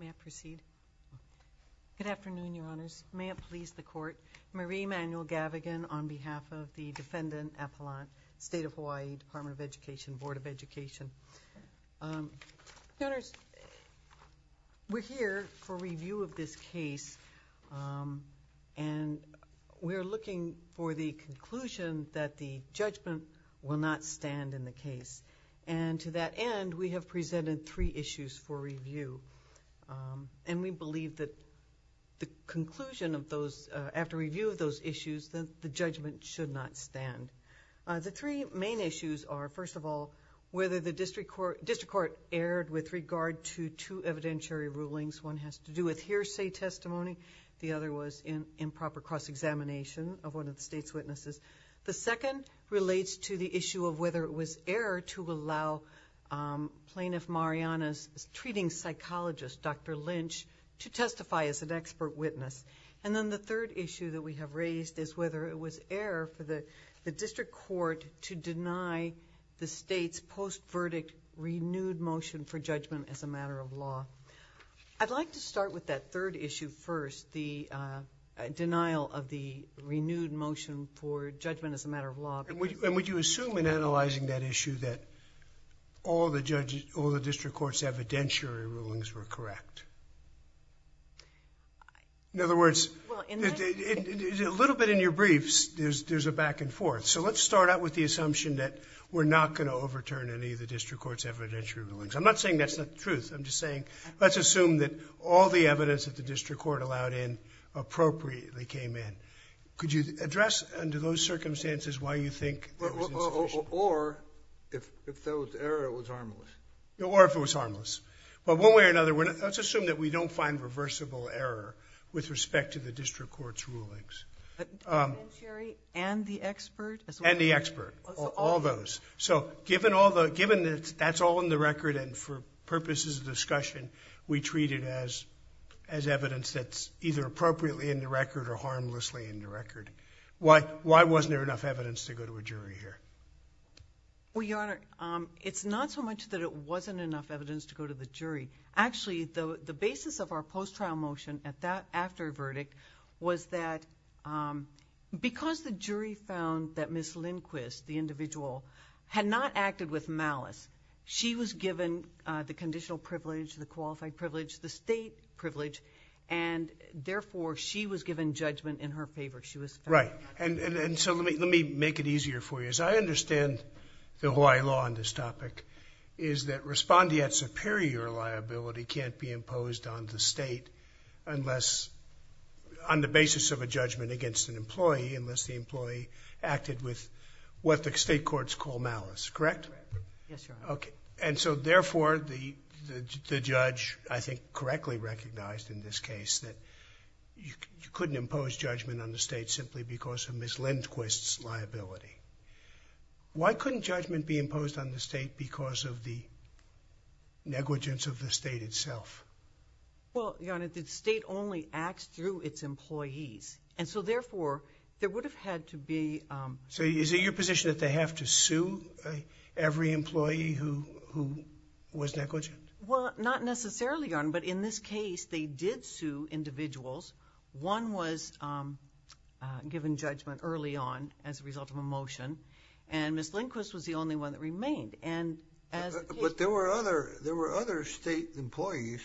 May I proceed? Good afternoon, Your Honors. May it please the Court, Marie Emanuel Gavigan on behalf of the Defendant Appellant, State of Hawaii Department of Education, Board of Education. Your Honors, we're here for review of this case, and we're looking for the conclusion that the judgment will not stand in the case. And to that end, we have presented three issues for review. And we believe that the conclusion of those, after review of those issues, that the judgment should not stand. The three main issues are, first of all, whether the District Court erred with regard to two evidentiary rulings. One has to do with hearsay testimony. The other was improper cross-examination of one of the State's witnesses. The second relates to the issue of whether it was error to allow Plaintiff Mariana's treating psychologist, Dr. Lynch, to testify as an expert witness. And then the third issue that we have raised is whether it was error for the District Court to deny the State's post-verdict renewed motion for judgment as a matter of law. I'd like to start with that third issue first, the that issue that all the District Court's evidentiary rulings were correct? In other words, a little bit in your briefs, there's a back and forth. So let's start out with the assumption that we're not going to overturn any of the District Court's evidentiary rulings. I'm not saying that's the truth. I'm just saying, let's assume that all the evidence that the District Court allowed in appropriately came in. Could you address under those circumstances why you think that was insufficient? Or if there was error, it was harmless. Or if it was harmless. But one way or another, let's assume that we don't find reversible error with respect to the District Court's rulings. The evidentiary and the expert? And the expert. All those. So given that's all in the record and for purposes of discussion, we treat it as evidence that's either appropriately in the record or harmlessly in the record. Why wasn't there enough evidence to go to a jury here? Well, Your Honor, it's not so much that it wasn't enough evidence to go to the jury. Actually, the basis of our post-trial motion at that after verdict was that because the jury found that Ms. Lindquist, the individual, had not acted with malice, she was given the conditional privilege, the qualified privilege, the state Let me make it easier for you. As I understand the Hawaii law on this topic, is that respondeat superior liability can't be imposed on the state unless, on the basis of a judgment against an employee, unless the employee acted with what the state courts call malice. Correct? Yes, Your Honor. Okay. And so therefore, the judge, I think, correctly recognized in this case that you couldn't impose judgment on the state simply because of Ms. Lindquist's liability. Why couldn't judgment be imposed on the state because of the negligence of the state itself? Well, Your Honor, the state only acts through its employees. And so therefore, there would have had to be... So is it your position that they have to sue every employee who was negligent? Well, not necessarily, Your Honor, but in this case, they did sue individuals. One was given judgment early on as a result of a motion, and Ms. Lindquist was the only one that remained. And as... But there were other state employees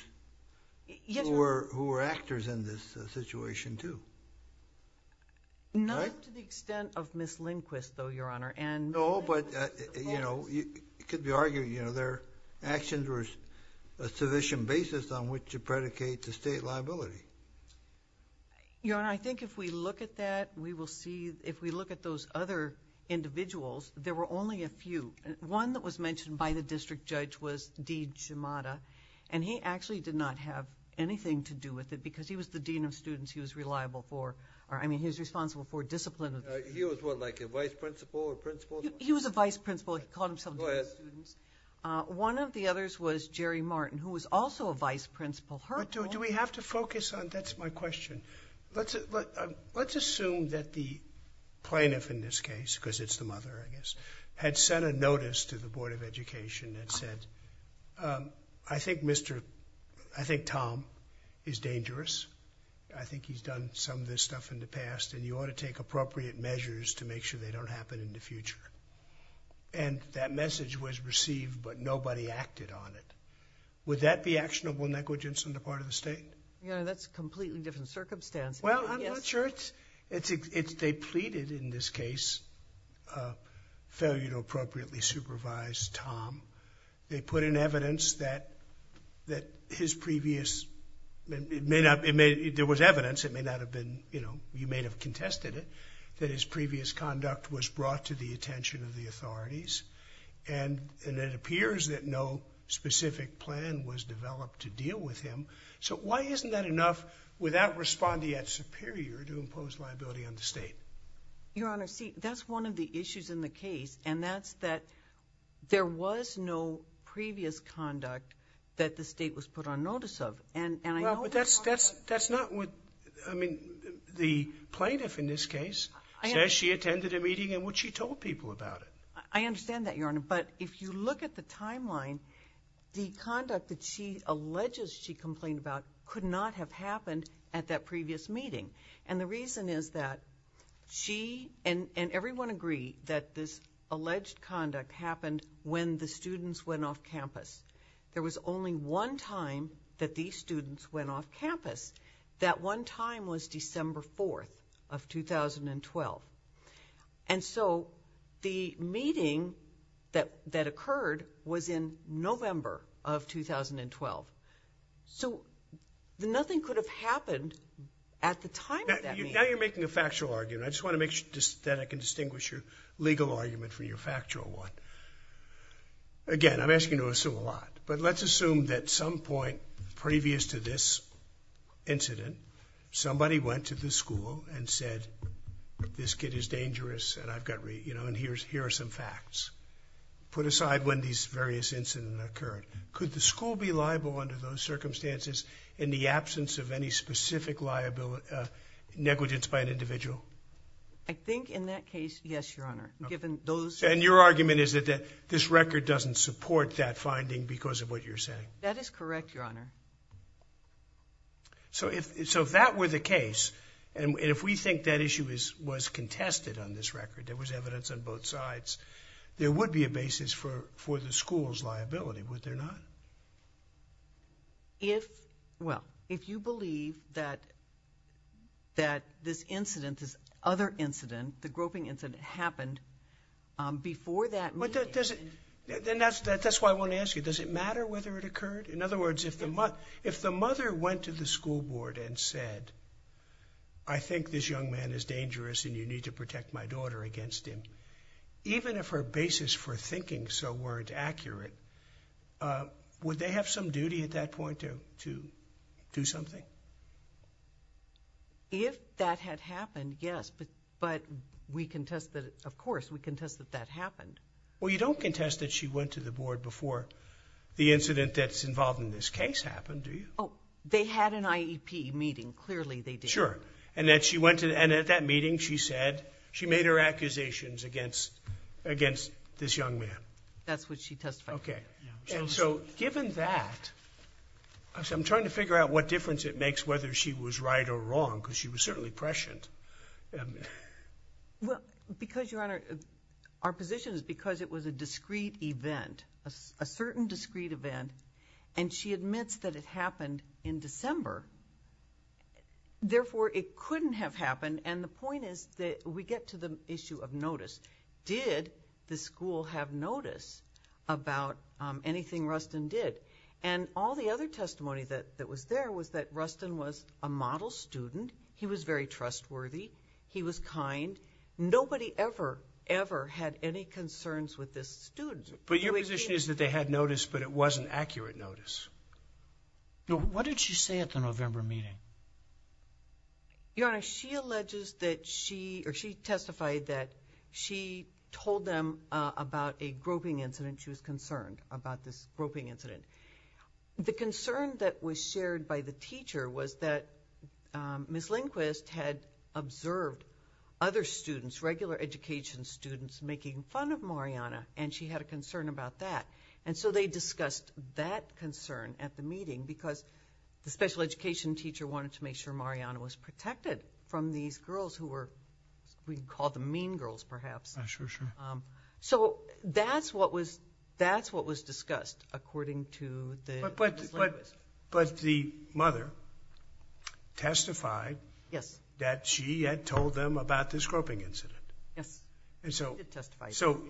who were actors in this situation, too. Not to the extent of Ms. Lindquist, though, Your Honor. No, but, you know, it could be argued, you know, their actions were a sufficient basis on which to predicate the state liability. Your Honor, I think if we look at that, we will see... If we look at those other individuals, there were only a few. One that was mentioned by the district judge was D. Jamada, and he actually did not have anything to do with it because he was the dean of students. He was reliable for... I mean, he was responsible for discipline. He was what, like a vice principal or principal? He was a vice principal. He called himself dean of students. Go ahead. Dean of students. One of the others was Jerry Martin, who was also a vice principal. Her role... Do we have to focus on... That's my question. Let's assume that the plaintiff in this case, because it's the mother, I guess, had sent a notice to the Board of Education that said, I think Mr.... I think Tom is dangerous. I think he's done some of this stuff in the past, and you ought to take appropriate measures to make sure they don't happen in the future. That message was received, but nobody acted on it. Would that be actionable negligence on the part of the state? That's a completely different circumstance. Well, I'm not sure it's... They pleaded in this case, failure to appropriately supervise Tom. They put in evidence that his previous... It may not... There was evidence. It may not have been... You may have contested that his previous conduct was brought to the attention of the authorities, and it appears that no specific plan was developed to deal with him. Why isn't that enough without responding at superior to impose liability on the state? Your Honor, see, that's one of the issues in the case, and that's that there was no previous conduct that the state was put on to deal with Tom's case. It says she attended a meeting in which she told people about it. I understand that, Your Honor, but if you look at the timeline, the conduct that she alleges she complained about could not have happened at that previous meeting, and the reason is that she and everyone agree that this alleged conduct happened when the students went off campus. There was only one time that these students went off campus. That one time was December 4th of 2012, and so the meeting that occurred was in November of 2012, so nothing could have happened at the time of that meeting. Now you're making a factual argument. I just want to make sure that I can distinguish your legal argument from your factual one. Again, I'm asking you to assume a lot, but let's assume that at some point previous to this incident, somebody went to the school and said, this kid is dangerous and here are some facts. Put aside when these various incidents occurred, could the school be liable under those circumstances in the absence of any specific negligence by an individual? I think in that case, yes, Your Honor. And your argument is that this record doesn't support that finding because of what you're saying? That is correct, Your Honor. So if that were the case, and if we think that issue was contested on this record, there was evidence on both sides, there would be a basis for the school's liability, would there not? If, well, if you believe that this incident, this other incident, the groping incident happened before that meeting. Then that's why I want to ask you, does it matter whether it occurred? In other words, if the mother went to the school board and said, I think this young man is dangerous and you need to protect my daughter against him, even if her basis for thinking so weren't accurate, would they have some duty at that point to do something? If that had happened, yes, but we contest that, of course, we contest that that happened. Well, you don't contest that she went to the board before the incident that's involved in this case happened, do you? They had an IEP meeting, clearly they did. Sure, and that she went to, and at that meeting she said, she made her accusations against this young man. That's what she testified. Okay, and so given that, I'm trying to figure out what difference it makes whether she was right or wrong, because she was certainly prescient. Well, because, Your Honor, our position is because it was a discreet event, a certain discreet event, and she admits that it happened in December, therefore it couldn't have happened, and the point is that we get to the issue of notice. Did the school have notice about anything Rustin did? And all the other testimony that was there was that Rustin was a model student, he was very trustworthy, he was kind, nobody ever, ever had any concerns with this student. But your position is that they had notice, but it wasn't accurate notice. What did she say at the November meeting? Your Honor, she alleges that she, or she testified that she told them about a groping incident, she was concerned about this groping incident. The concern that was shared by the teacher was that Ms. Lindquist had observed other students, regular education students, making fun of Mariana, and she had a concern about that, and so they discussed that concern at the meeting because the special education teacher wanted to make sure Mariana was protected from these girls who were, we'd call them mean girls perhaps, so that's what was discussed according to Ms. Lindquist. But the mother testified that she had told them about this groping incident. Yes, she did testify. So,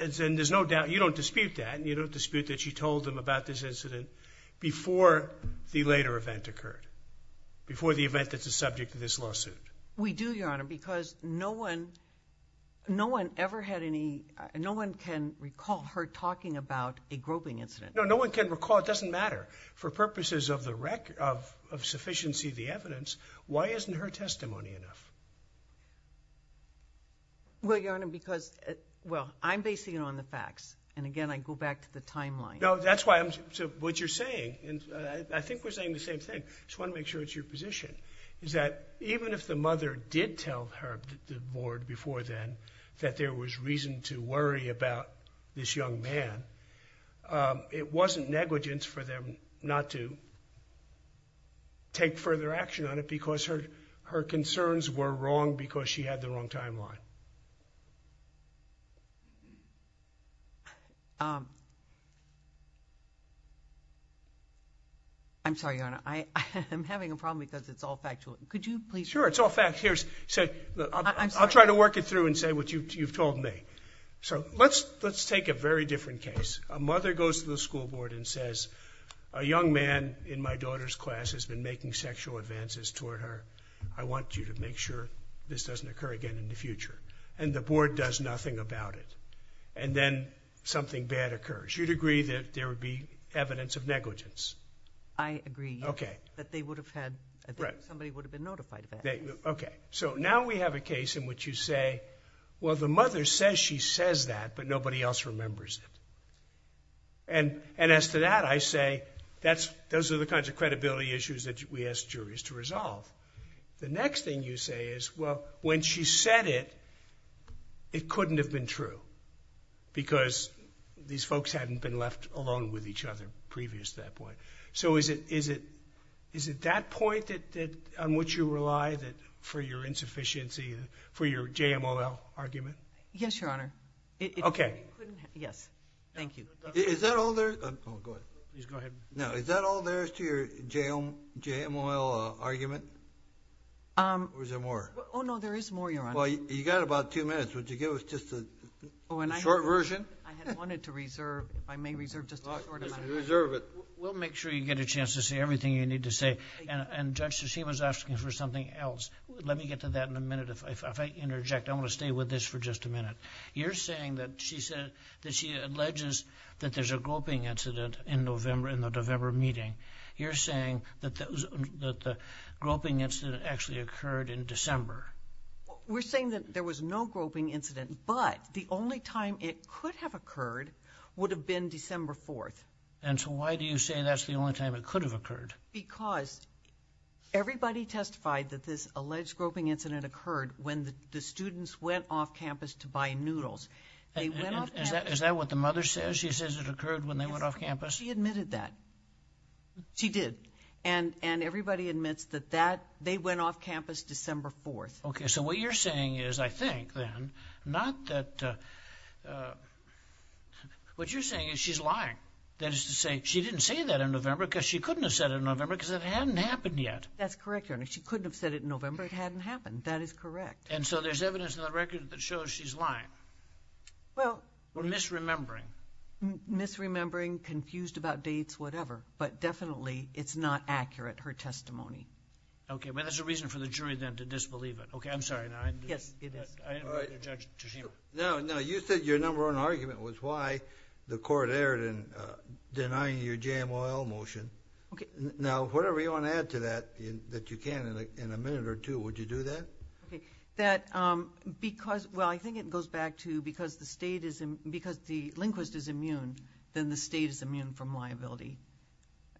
and there's no doubt, you don't dispute that, you don't dispute that she told them about this incident before the later event occurred, before the event that's the subject of this lawsuit. We do, Your Honor, because no one, no one ever had any, no one can recall her talking about a groping incident. No, no one can recall, it doesn't matter. For purposes of the record, of sufficiency of the evidence, why isn't her testimony enough? Well, Your Honor, because, well, I'm basing it on the facts, and again, I go back to the timeline. No, that's why I'm, so what you're saying, and I think we're saying the same thing, just want to make sure it's your position, is that even if the mother did tell her, the board before then, that there was reason to worry about this young man, it wasn't negligence for them not to take further action on it because her, her concerns were wrong because she had the wrong timeline. I'm sorry, Your Honor, I'm having a problem because it's all factual. Could you please Sure, it's all factual. I'll try to work it through and say what you've told me. So let's take a very different case. A mother goes to the school board and says, a young man in my daughter's class has been making sexual advances toward her. I want you to make sure this doesn't occur again in the future. And the board does nothing about it. And then something bad occurs. You'd agree that there would be evidence of negligence? I agree that they would have had, somebody would have been notified of that. So now we have a case in which you say, well, the mother says she says that, but nobody else remembers it. And as to that, I say, those are the kinds of credibility issues that we ask juries to resolve. The next thing you say is, well, when she said it, it couldn't have been true because these folks hadn't been left alone with each other previous to that point. So is it, is it, is it that point that, that on what you rely that for your insufficiency for your JMOL argument? Yes, Your Honor. Okay. Yes. Thank you. Is that all there? Oh, go ahead. No. Is that all there is to your JMOL argument? Or is there more? Oh, no, there is more, Your Honor. Well, you got about two minutes. Would you give us just a short version? I had wanted to reserve. I may reserve just a short amount of time. We'll make sure you get a chance to say everything you need to say. And Judge, she was asking for something else. Let me get to that in a minute. If I interject, I want to stay with this for just a minute. You're saying that she said that she alleges that there's a groping incident in November, in the November meeting. You're saying that that was, that the groping incident actually occurred in December. We're saying that there was no groping incident, but the only time it could have occurred would have been December 4th. And so why do you say that's the only time it could have occurred? Because everybody testified that this alleged groping incident occurred when the students went off campus to buy noodles. Is that what the mother says? She says it occurred when they went off campus? She admitted that. She did. And everybody admits that they went off campus December 4th. Okay. So what you're saying is, I think then, not that, what you're saying is she's lying. That is to say, she didn't say that in November because she couldn't have said it in November because it hadn't happened yet. That's correct, Your Honor. She couldn't have said it in November. It hadn't happened. That is correct. And so there's evidence in the record that shows she's lying. Well. Or misremembering. Misremembering, confused about dates, whatever. But definitely it's not accurate, her testimony. Okay. Well, there's a reason for the jury then to disbelieve it. Okay, I'm sorry. Yes, it is. I didn't mean to judge Tashima. No, no. You said your number one argument was why the court erred in denying your Jam Oil motion. Okay. Now, whatever you want to add to that, that you can in a minute or two, would you do that? Okay. That, because, well I think it goes back to because the state is, because the linguist is immune, then the state is immune from liability.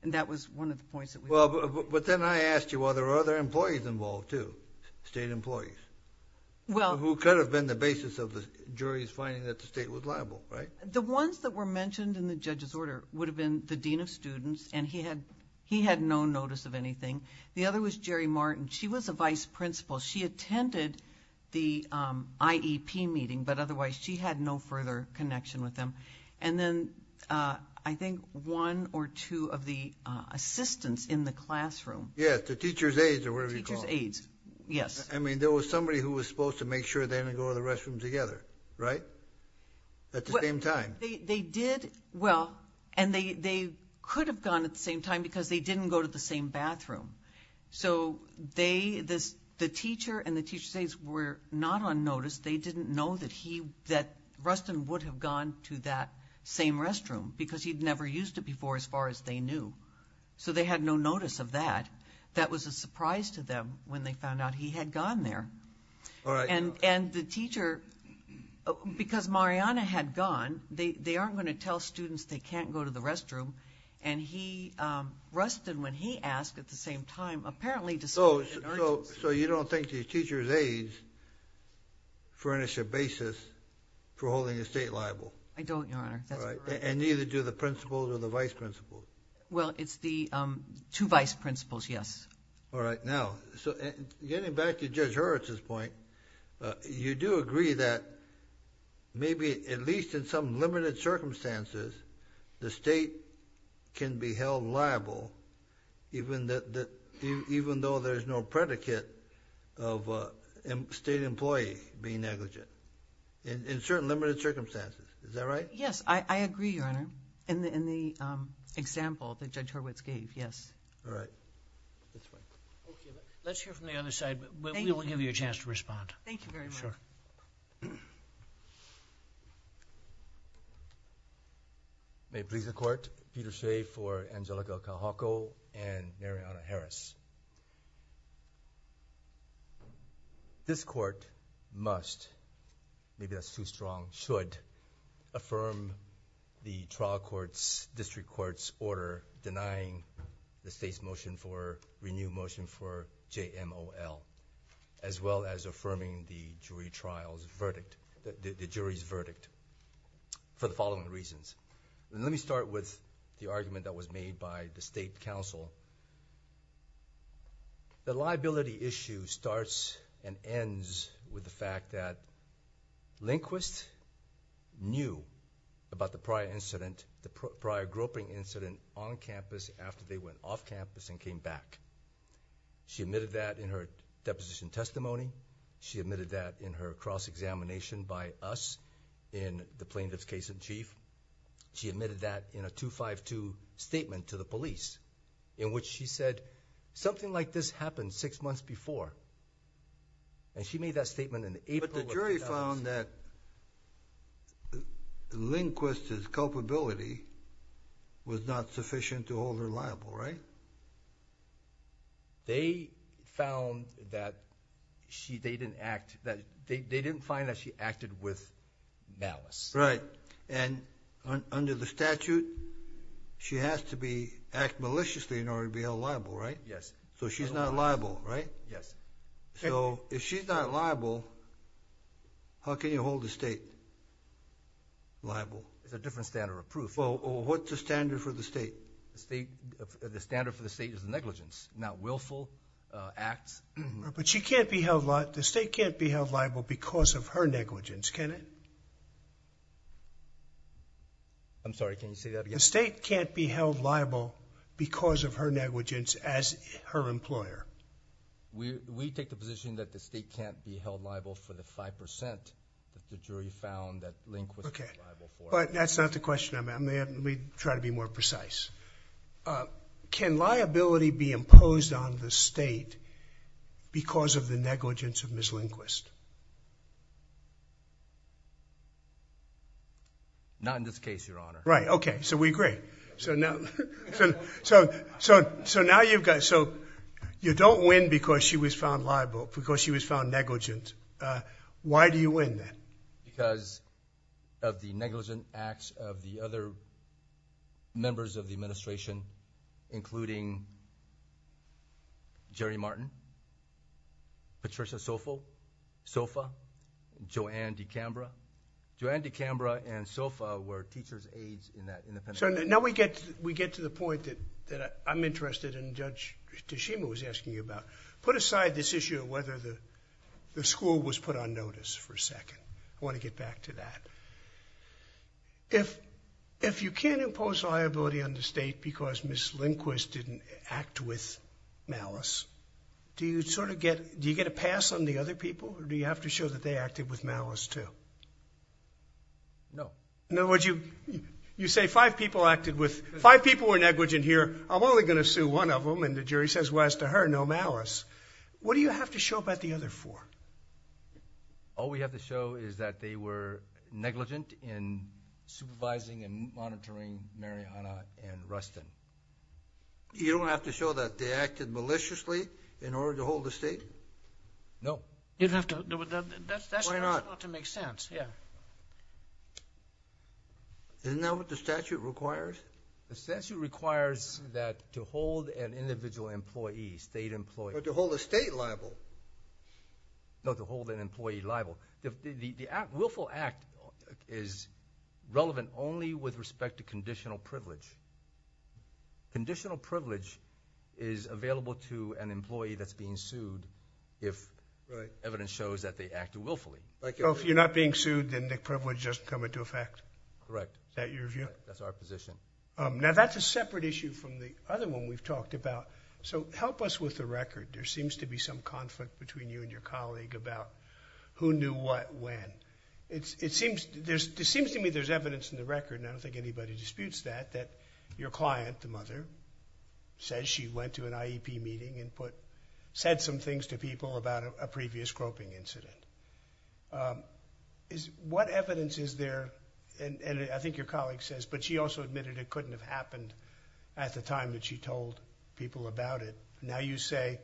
And that was one of the points that we made. Well, but then I asked you, well, there are other employees involved, too. State employees. Well. Who could have been the basis of the jury's finding that the state was liable, right? The ones that were mentioned in the judge's order would have been the Dean of Students, and he had no notice of anything. The other was Jerry Martin. She was a vice principal. She attended the IEP meeting, but otherwise she had no further connection with him. And then I think one or two of the assistants in the classroom. Yeah, the teacher's aides, or whatever you call them. Teacher's aides. Yes. I mean, there was somebody who was supposed to make sure they didn't go to the restroom together, right? At the same time. They did, well, and they could have gone at the same time because they didn't go to the same bathroom. So, they, the teacher and the teacher's aides were not on notice. They didn't know that he, that Rustin would have gone to that same restroom because he'd never used it before, as far as they knew. So they had no notice of that. That was a surprise to them when they found out he had gone there. All right. And the teacher, because Mariana had gone, they aren't going to tell students they can't go to the restroom, and he, Rustin, when he asked at the same time, apparently decided... So, you don't think the teacher's aides furnish a basis for holding the state liable? I don't, Your Honor. That's correct. All right. And neither do the principals or the vice-principals. Well, it's the two vice-principals, yes. All right. Now, so getting back to Judge Hurwitz's point, you do agree that maybe, at least in some limited circumstances, the state can be held liable even that, even though there's no predicate of a state employee being negligent, in certain limited circumstances. Is that right? Yes, I agree, Your Honor, in the example that Judge Hurwitz gave, yes. All right. Let's hear from the other side. We will give you a chance to respond. Thank you very much. Sure. May it please the Court, Peter Shea for Angelica Kahako and Mariana Harris. This Court must, maybe that's too strong, should affirm the trial court's, district court's order denying the state's motion for, renewed motion for JMOL, as well as affirming the jury trial's verdict, the jury's verdict, for the following reasons. Let me start with the argument that was made by the State Council. The liability issue starts and ends with the fact that Lindquist knew about the prior incident, the prior groping incident on campus after they went off campus and came back. She admitted that in her deposition testimony. She admitted that in her cross-examination by us in the plaintiff's case in chief. She admitted that in a 252 statement to the police, in which she said, something like this happened six months before. And she made that statement in April of 2000. But the jury found that Lindquist's culpability was not sufficient to hold her liable, right? They found that she, they didn't act, that they didn't find that she acted with malice. Right. And under the statute, she has to be, act maliciously in order to be held liable, right? Yes. So she's not liable, right? Yes. So if she's not liable, how can you hold the state liable? There's a different standard of proof. Well, what's the standard for the state? The standard for the state is negligence, not willful acts. But she can't be held liable, the state can't be held liable because of her negligence, can it? I'm sorry, can you say that again? The state can't be held liable because of her negligence as her employer. We take the position that the state can't be held liable for the 5% that the jury found that Lindquist was liable for. Okay. But that's not the question. I'm going to try to be more precise. Can liability be imposed on the state because of the negligence of Ms. Lindquist? Not in this case, Your Honor. Right. Okay. So we agree. So now you've got, so you don't win because she was found liable, because she was found negligent. Why do you win then? Because of the negligent acts of the other members of the administration, including Jerry Martin, Patricia Sofa, Joanne DeCambra. Joanne DeCambra and Sofa were teacher's aides in that independent case. So now we get to the point that I'm interested in, Judge Tashima was asking you about. Put aside this issue of whether the school was put on notice for a second. I want to get back to that. If you can't impose liability on the state because Ms. Lindquist didn't act with malice, do you sort of get, do you get a pass on the other people, or do you have to show that they acted with malice too? No. In other words, you say five people acted with, five people were negligent here. I'm only going to sue one of them. And the jury says, well, as to her, no malice. What do you have to show about the other four? All we have to show is that they were negligent in supervising and monitoring Mariana and Rustin. You don't have to show that they acted maliciously in order to hold a state? No. You don't have to, that's not to make sense. Yeah. Isn't that what the statute requires? The statute requires that to hold an individual employee, state employee. But to hold a state liable. No, to hold an employee liable. The Act, Willful Act is relevant only with respect to conditional privilege. Conditional privilege is available to an employee that's being sued if evidence shows that they acted willfully. So if you're not being sued, then the privilege doesn't come into effect? Correct. Is that your view? That's our position. Now that's a separate issue from the other one we've talked about. So help us with the record. There seems to be some conflict between you and your colleague about who knew what when. It seems to me there's evidence in the record, and I don't think anybody disputes that, that your client, the mother, says she went to an IEP meeting and said some things to people about a previous groping incident. What evidence is there, and I think your colleague says, but she also admitted it couldn't have happened at the time that she told people about it. Now you say,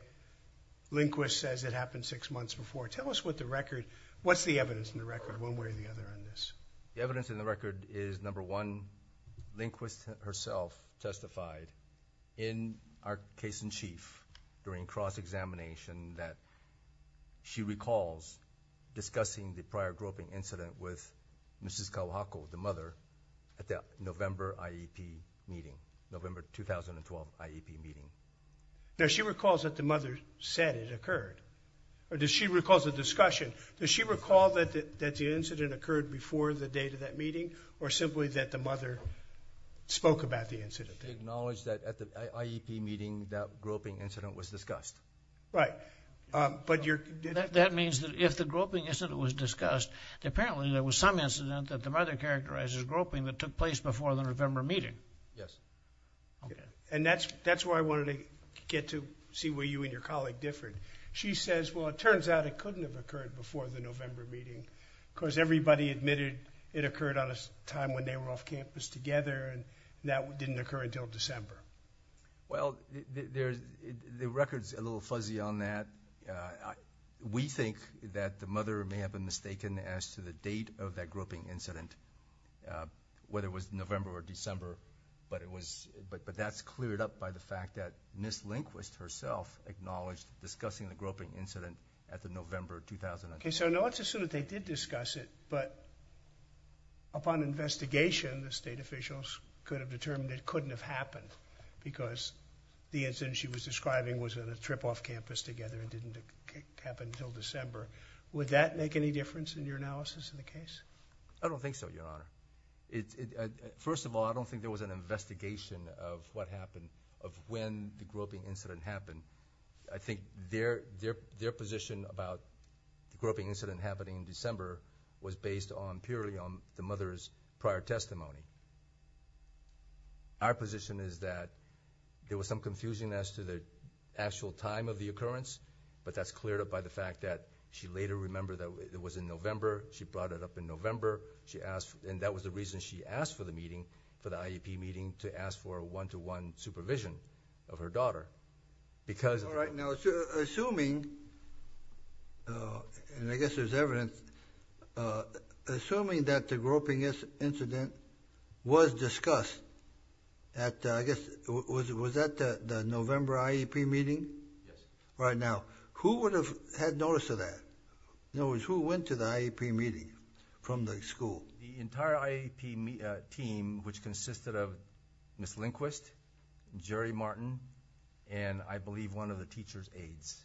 Lindquist says it happened six months before. Tell us what the record, what's the evidence in the record, one way or the other on this? The evidence in the record is number one, Lindquist herself testified in our case-in-chief during cross-examination that she recalls discussing the prior groping incident with Mrs. Kawahako, the mother, at the November IEP meeting, November 2012 IEP meeting. Now she recalls that the mother said it occurred, or does she recall the discussion? Does she recall that the incident occurred before the date of that meeting, or simply that the mother spoke about the incident? She acknowledged that at the IEP meeting, that groping incident was discussed. Right. But you're... That means that if the groping incident was discussed, apparently there was some incident that the mother characterized as groping that took place before the November meeting. Yes. And that's why I wanted to get to see where you and your colleague differed. She says, well, it turns out it couldn't have occurred before the November meeting, because everybody admitted it occurred on a time when they were off campus together, and that didn't occur until December. Well, the record's a little fuzzy on that. We think that the mother may have been mistaken as to the date of that groping incident, whether it was November or December, but that's cleared up by the fact that Ms. Lindquist herself acknowledged discussing the groping incident at the November 2019 meeting. Okay, so now let's assume that they did discuss it, but upon investigation, the state officials could have determined it couldn't have happened, because the incident she was describing was on a trip off campus together. It didn't happen until December. Would that make any difference in your analysis of the case? I don't think so, Your Honor. First of all, I don't think there was an investigation of what happened, of when the groping incident happened. I think their position about the groping incident happening in December was based purely on the mother's prior testimony. Our position is that there was some confusion as to the actual time of the occurrence, but that's cleared up by the fact that she later remembered that it was in November. She brought it up in November, and that was the reason she asked for the meeting, for the IEP meeting, to ask for a one-to-one supervision of her daughter, because of that. All right, now, assuming, and I guess there's evidence, assuming that the groping incident was discussed at, I guess, was that the November IEP meeting? Yes. Right now, who would have had notice of that? In other words, who went to the IEP meeting from the school? The entire IEP team, which consisted of Ms. Lindquist, Jerry Martin, and, I believe, one of the teacher's aides,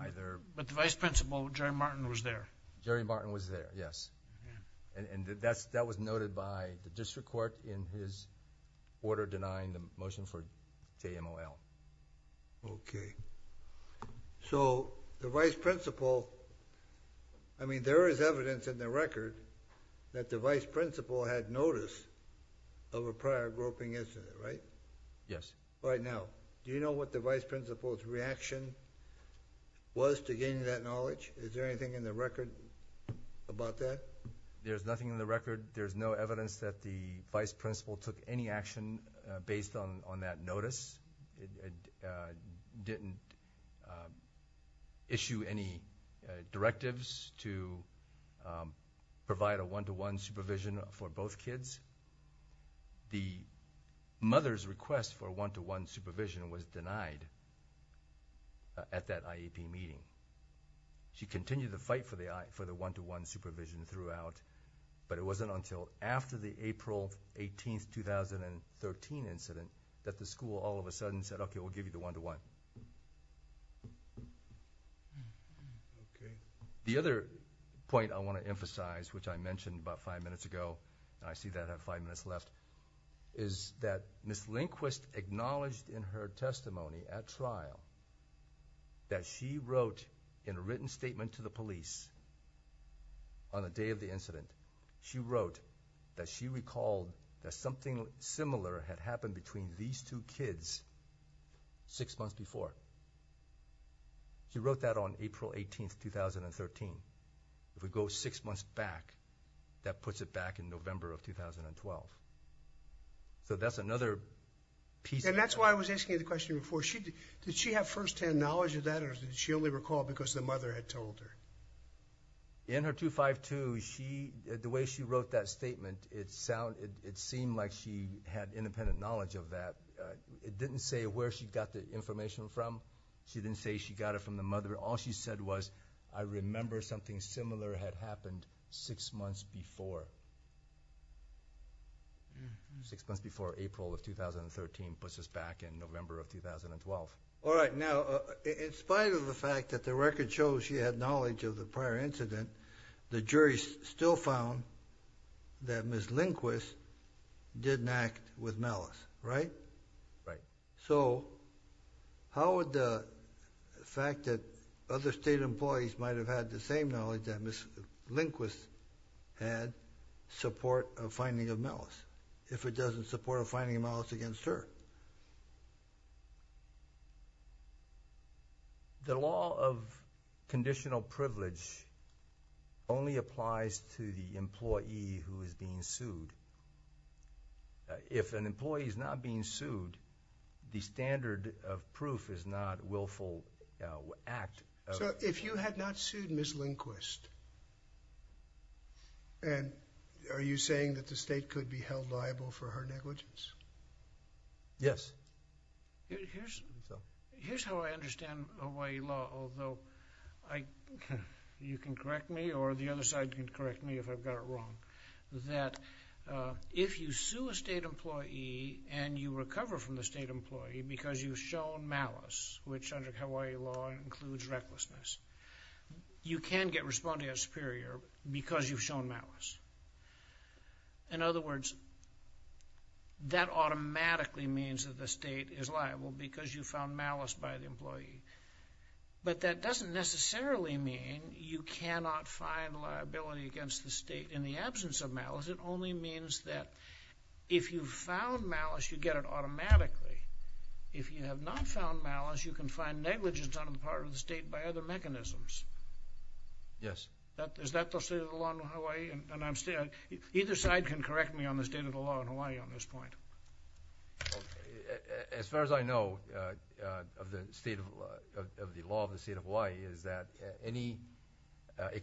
either... But the vice principal, Jerry Martin, was there. Jerry Martin was there, yes. And that was noted by the district court in his order denying the motion for KMOL. Okay. So, the vice principal, I mean, there is evidence in the record that the vice principal had notice of a prior groping incident, right? Yes. All right, now, do you know what the vice principal's reaction was to gaining that knowledge? Is there anything in the record about that? There's nothing in the record. There's no evidence that the vice principal took any action based on that notice. It didn't issue any directives to provide a one-to-one supervision for both kids. The mother's request for one-to-one supervision was denied at that IEP meeting. She continued to fight for the one-to-one supervision throughout, but it wasn't until after the April 18, 2013, incident that the school all of a sudden said, okay, we'll give you the one-to-one. Okay. The other point I want to emphasize, which I mentioned about five minutes ago, and I see that I have five minutes left, is that Ms. Lindquist acknowledged in her testimony at trial that she wrote in a written statement to the police on the day of the incident, she wrote that she recalled that something similar had happened between these two kids six months before. She wrote that on April 18, 2013. If we go six months back, that puts it back in November of 2012. So that's another piece of that. And that's why I was asking you the question before. Did she have first-hand knowledge of that, or did she only recall because the mother had told her? In her 252, the way she wrote that statement, it seemed like she had independent knowledge of that. It didn't say where she got the information from. She didn't say she got it from the mother. All she said was, I remember something similar had happened six months before. Six months before April of 2013 puts us back in November of 2012. All right. Now, in spite of the fact that the record shows she had knowledge of the prior incident, the jury still found that Ms. Lindquist didn't act with malice. Right? Right. So how would the fact that other state employees might have had the same knowledge that Ms. Lindquist had support a finding of malice, if it doesn't support a finding of malice against her? The law of conditional privilege only applies to the employee who is being sued. If an employee is not being sued, the standard of proof is not willful act of... If you had not sued Ms. Lindquist, are you saying that the state could be held liable for her negligence? Yes. Here's how I understand Hawaii law, although you can correct me or the other side can correct me if I've got it wrong, that if you sue a state employee and you recover from the state employee because you've shown malice, which under Hawaii law includes recklessness, you can get responded as superior because you've shown malice. In other words, that automatically means that the state is liable because you found malice by the employee. But that doesn't necessarily mean you cannot find liability against the state in the absence of malice. It only means that if you found malice, you get it automatically. If you have not found malice, you can find negligence on the part of the state by other mechanisms. Yes. Is that the state of the law in Hawaii? Either side can correct me on the state of the law in Hawaii on this point. As far as I know of the state of the law of the state of Hawaii is that any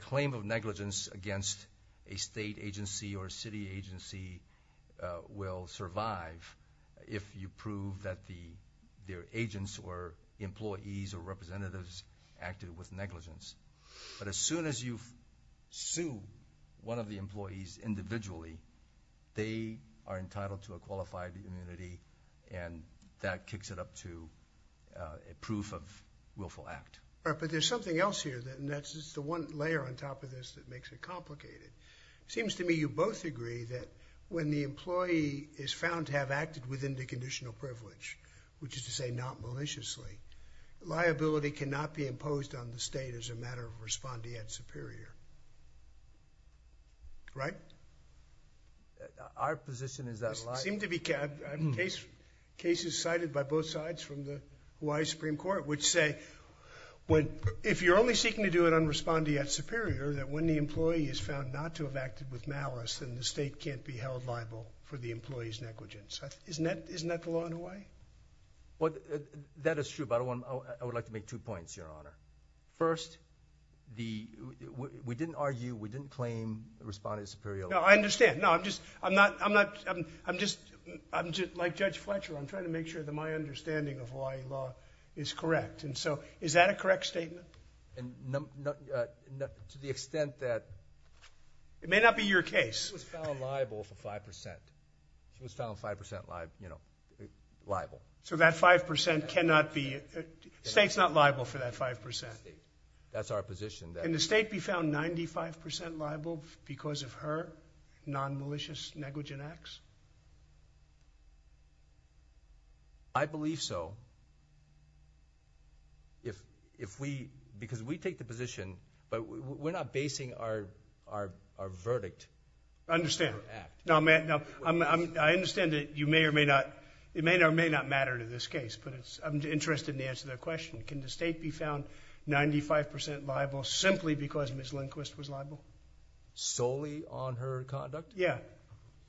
claim of negligence against a state agency or a city agency will survive if you prove that their agents or employees or representatives acted with negligence. But as soon as you sue one of the employees individually, they are entitled to a qualified immunity and that kicks it up to a proof of willful act. But there's something else here and that's just the one layer on top of this that makes it complicated. It seems to me you both agree that when the employee is found to have acted within the conditional privilege, which is to say not maliciously, liability cannot be held liable. Our position is that liability cannot be held liable. Cases cited by both sides from the Hawaii Supreme Court would say if you're only seeking to do it on respondeat superior, that when the employee is found not to have acted with malice, then the state can't be held liable for the employee's negligence. Isn't that the law in Hawaii? That is true. I would like to make two points, Your Honor. First, we didn't argue, we didn't claim responde superior. No, I understand. I'm just like Judge Fletcher. I'm trying to make sure that my understanding of Hawaii law is correct. Is that a correct statement? To the extent that... It may not be your case. He was found liable for 5%. He was found 5% liable. So that 5% cannot be... The state's not liable for that 5%. That's our position. Can the state be found 95% liable because of her non-malicious negligent acts? I believe so. If we, because we take the position, but we're not basing our verdict on her act. I understand. I understand that you may or may not, it may or may not matter to this case, but I'm interested in answering that question. Can the state be found 95% liable simply because Ms. Lindquist was liable? Solely on her conduct? Yeah.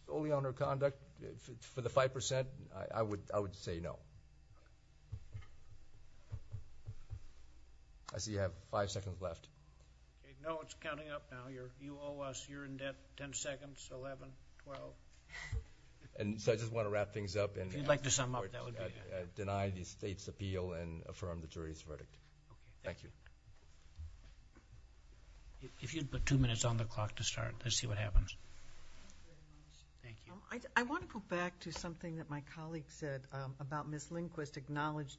Solely on her conduct, for the 5%, I would say no. I see you have five seconds left. No, it's counting up now. You owe us, you're in debt, 10 seconds, 11, 12. And so I just want to wrap things up and... If you'd like to sum up, that would be... Deny the state's appeal and affirm the jury's verdict. Thank you. If you'd put two minutes on the clock to start, let's see what happens. Thank you. Thank you. I want to go back to something that my colleague said about Ms. Lindquist acknowledged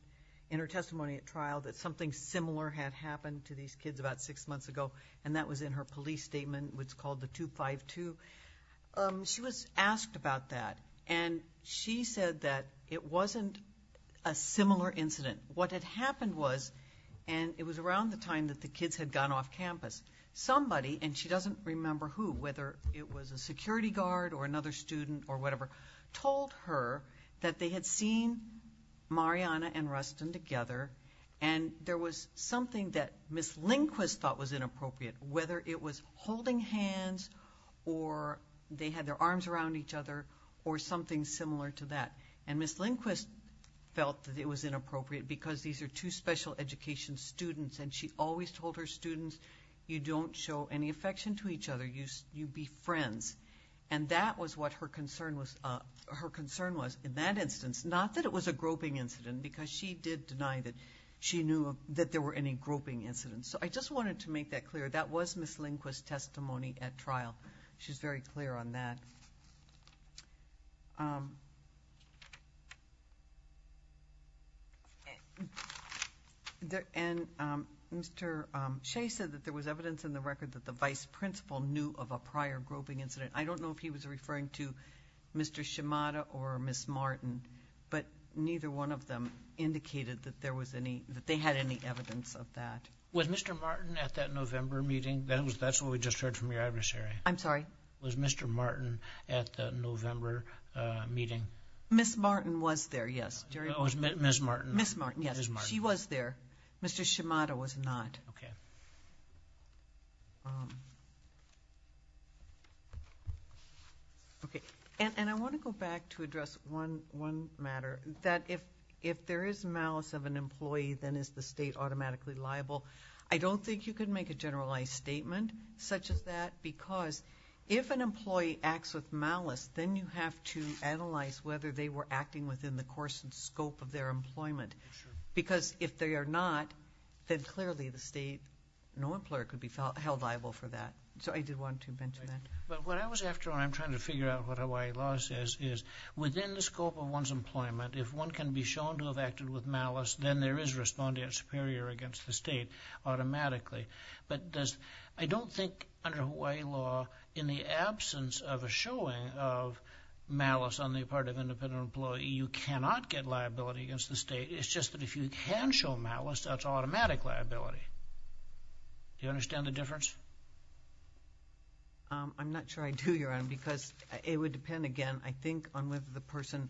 in her testimony at trial that something similar had happened to these kids about six months ago, and that was in her police statement, which is called the 252. She was asked about that, and she said that it wasn't a similar incident. What had happened was, and it was around the time that the kids had gone off campus, somebody, and she doesn't remember who, whether it was a security guard or another student or whatever, told her that they had seen Mariana and Rustin together, and there was something that Ms. Lindquist thought was inappropriate, whether it was holding hands, or they had their arms around each other, or something similar to that. And Ms. Lindquist felt that it was inappropriate because these are two special education students, and she always told her students, you don't show any affection to each other. You be friends. And that was what her concern was in that instance, not that it was a groping incident, because she did deny that she knew that there were any groping incidents. So I just wanted to make that clear. That was Ms. Lindquist's testimony at trial. She's very clear on that. And Mr. Shea said that there was evidence in the record that the vice principal knew of a prior groping incident. I don't know if he was referring to Mr. Shimada or Ms. Martin, but neither one of them indicated that there was any, that they had any evidence of that. Was Mr. Martin at that November meeting? That's what we just heard from your adversary. I'm sorry? Was Mr. Martin at that November meeting? Ms. Martin was there, yes. Ms. Martin? Ms. Martin, yes. She was there. Mr. Shimada was not. Okay. Okay. And I want to go back to address one matter, that if there is malice of an employee, then is the state automatically liable? I don't think you can make a generalized statement such as that, because if an employee acts with malice, then you have to analyze whether they were acting within the course and scope of their employment. Because if they are not, then clearly the state, no employer could be held liable for that. So I did want to mention that. But what I was after, and I'm trying to figure out what Hawaii law says, is within the scope of one's employment, if one can be shown to have acted with malice, then there is respondent superior against the state automatically. But does, I don't think under Hawaii law, in the absence of a showing of malice on the part of an independent employee, you cannot get liability against the state. It's just that if you can show malice, that's automatic liability. Do you understand the difference? I'm not sure I do, Your Honor, because it would depend again, I think, on whether the person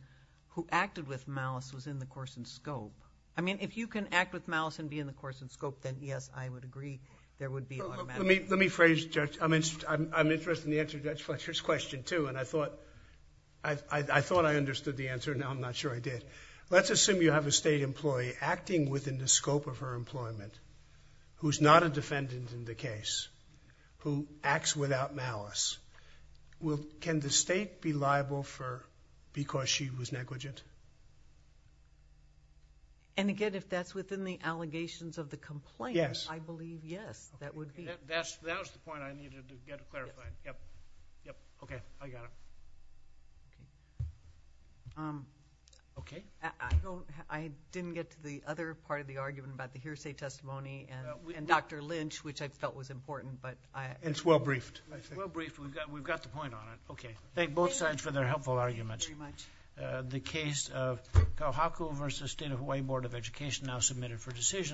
who acted with malice was in the course and scope. I mean, if you can act with malice and be in the course and scope, then yes, I would agree there would be automatic... Let me phrase, Judge. I'm interested in the answer to Judge Fletcher's question, too, and I thought I understood the answer. Now I'm not sure I did. Let's assume you have a state employee acting within the scope of her employment, who's not a defendant in the case, who acts without malice. Can the state be liable for because she was negligent? And again, if that's within the allegations of the complaint... Yes. I believe yes, that would be... That was the point I needed to get clarified. Yep. Yep. Okay. I got it. Okay. I didn't get to the other part of the argument about the hearsay testimony and Dr. Lynch, which I felt was important, but I... It's well briefed. It's well briefed. We've got the point on it. Okay. Thank you. Thank both sides for their helpful arguments. Thank you very much. The case of Kauhaku v. State of Hawaii Board of Education now submitted for decision.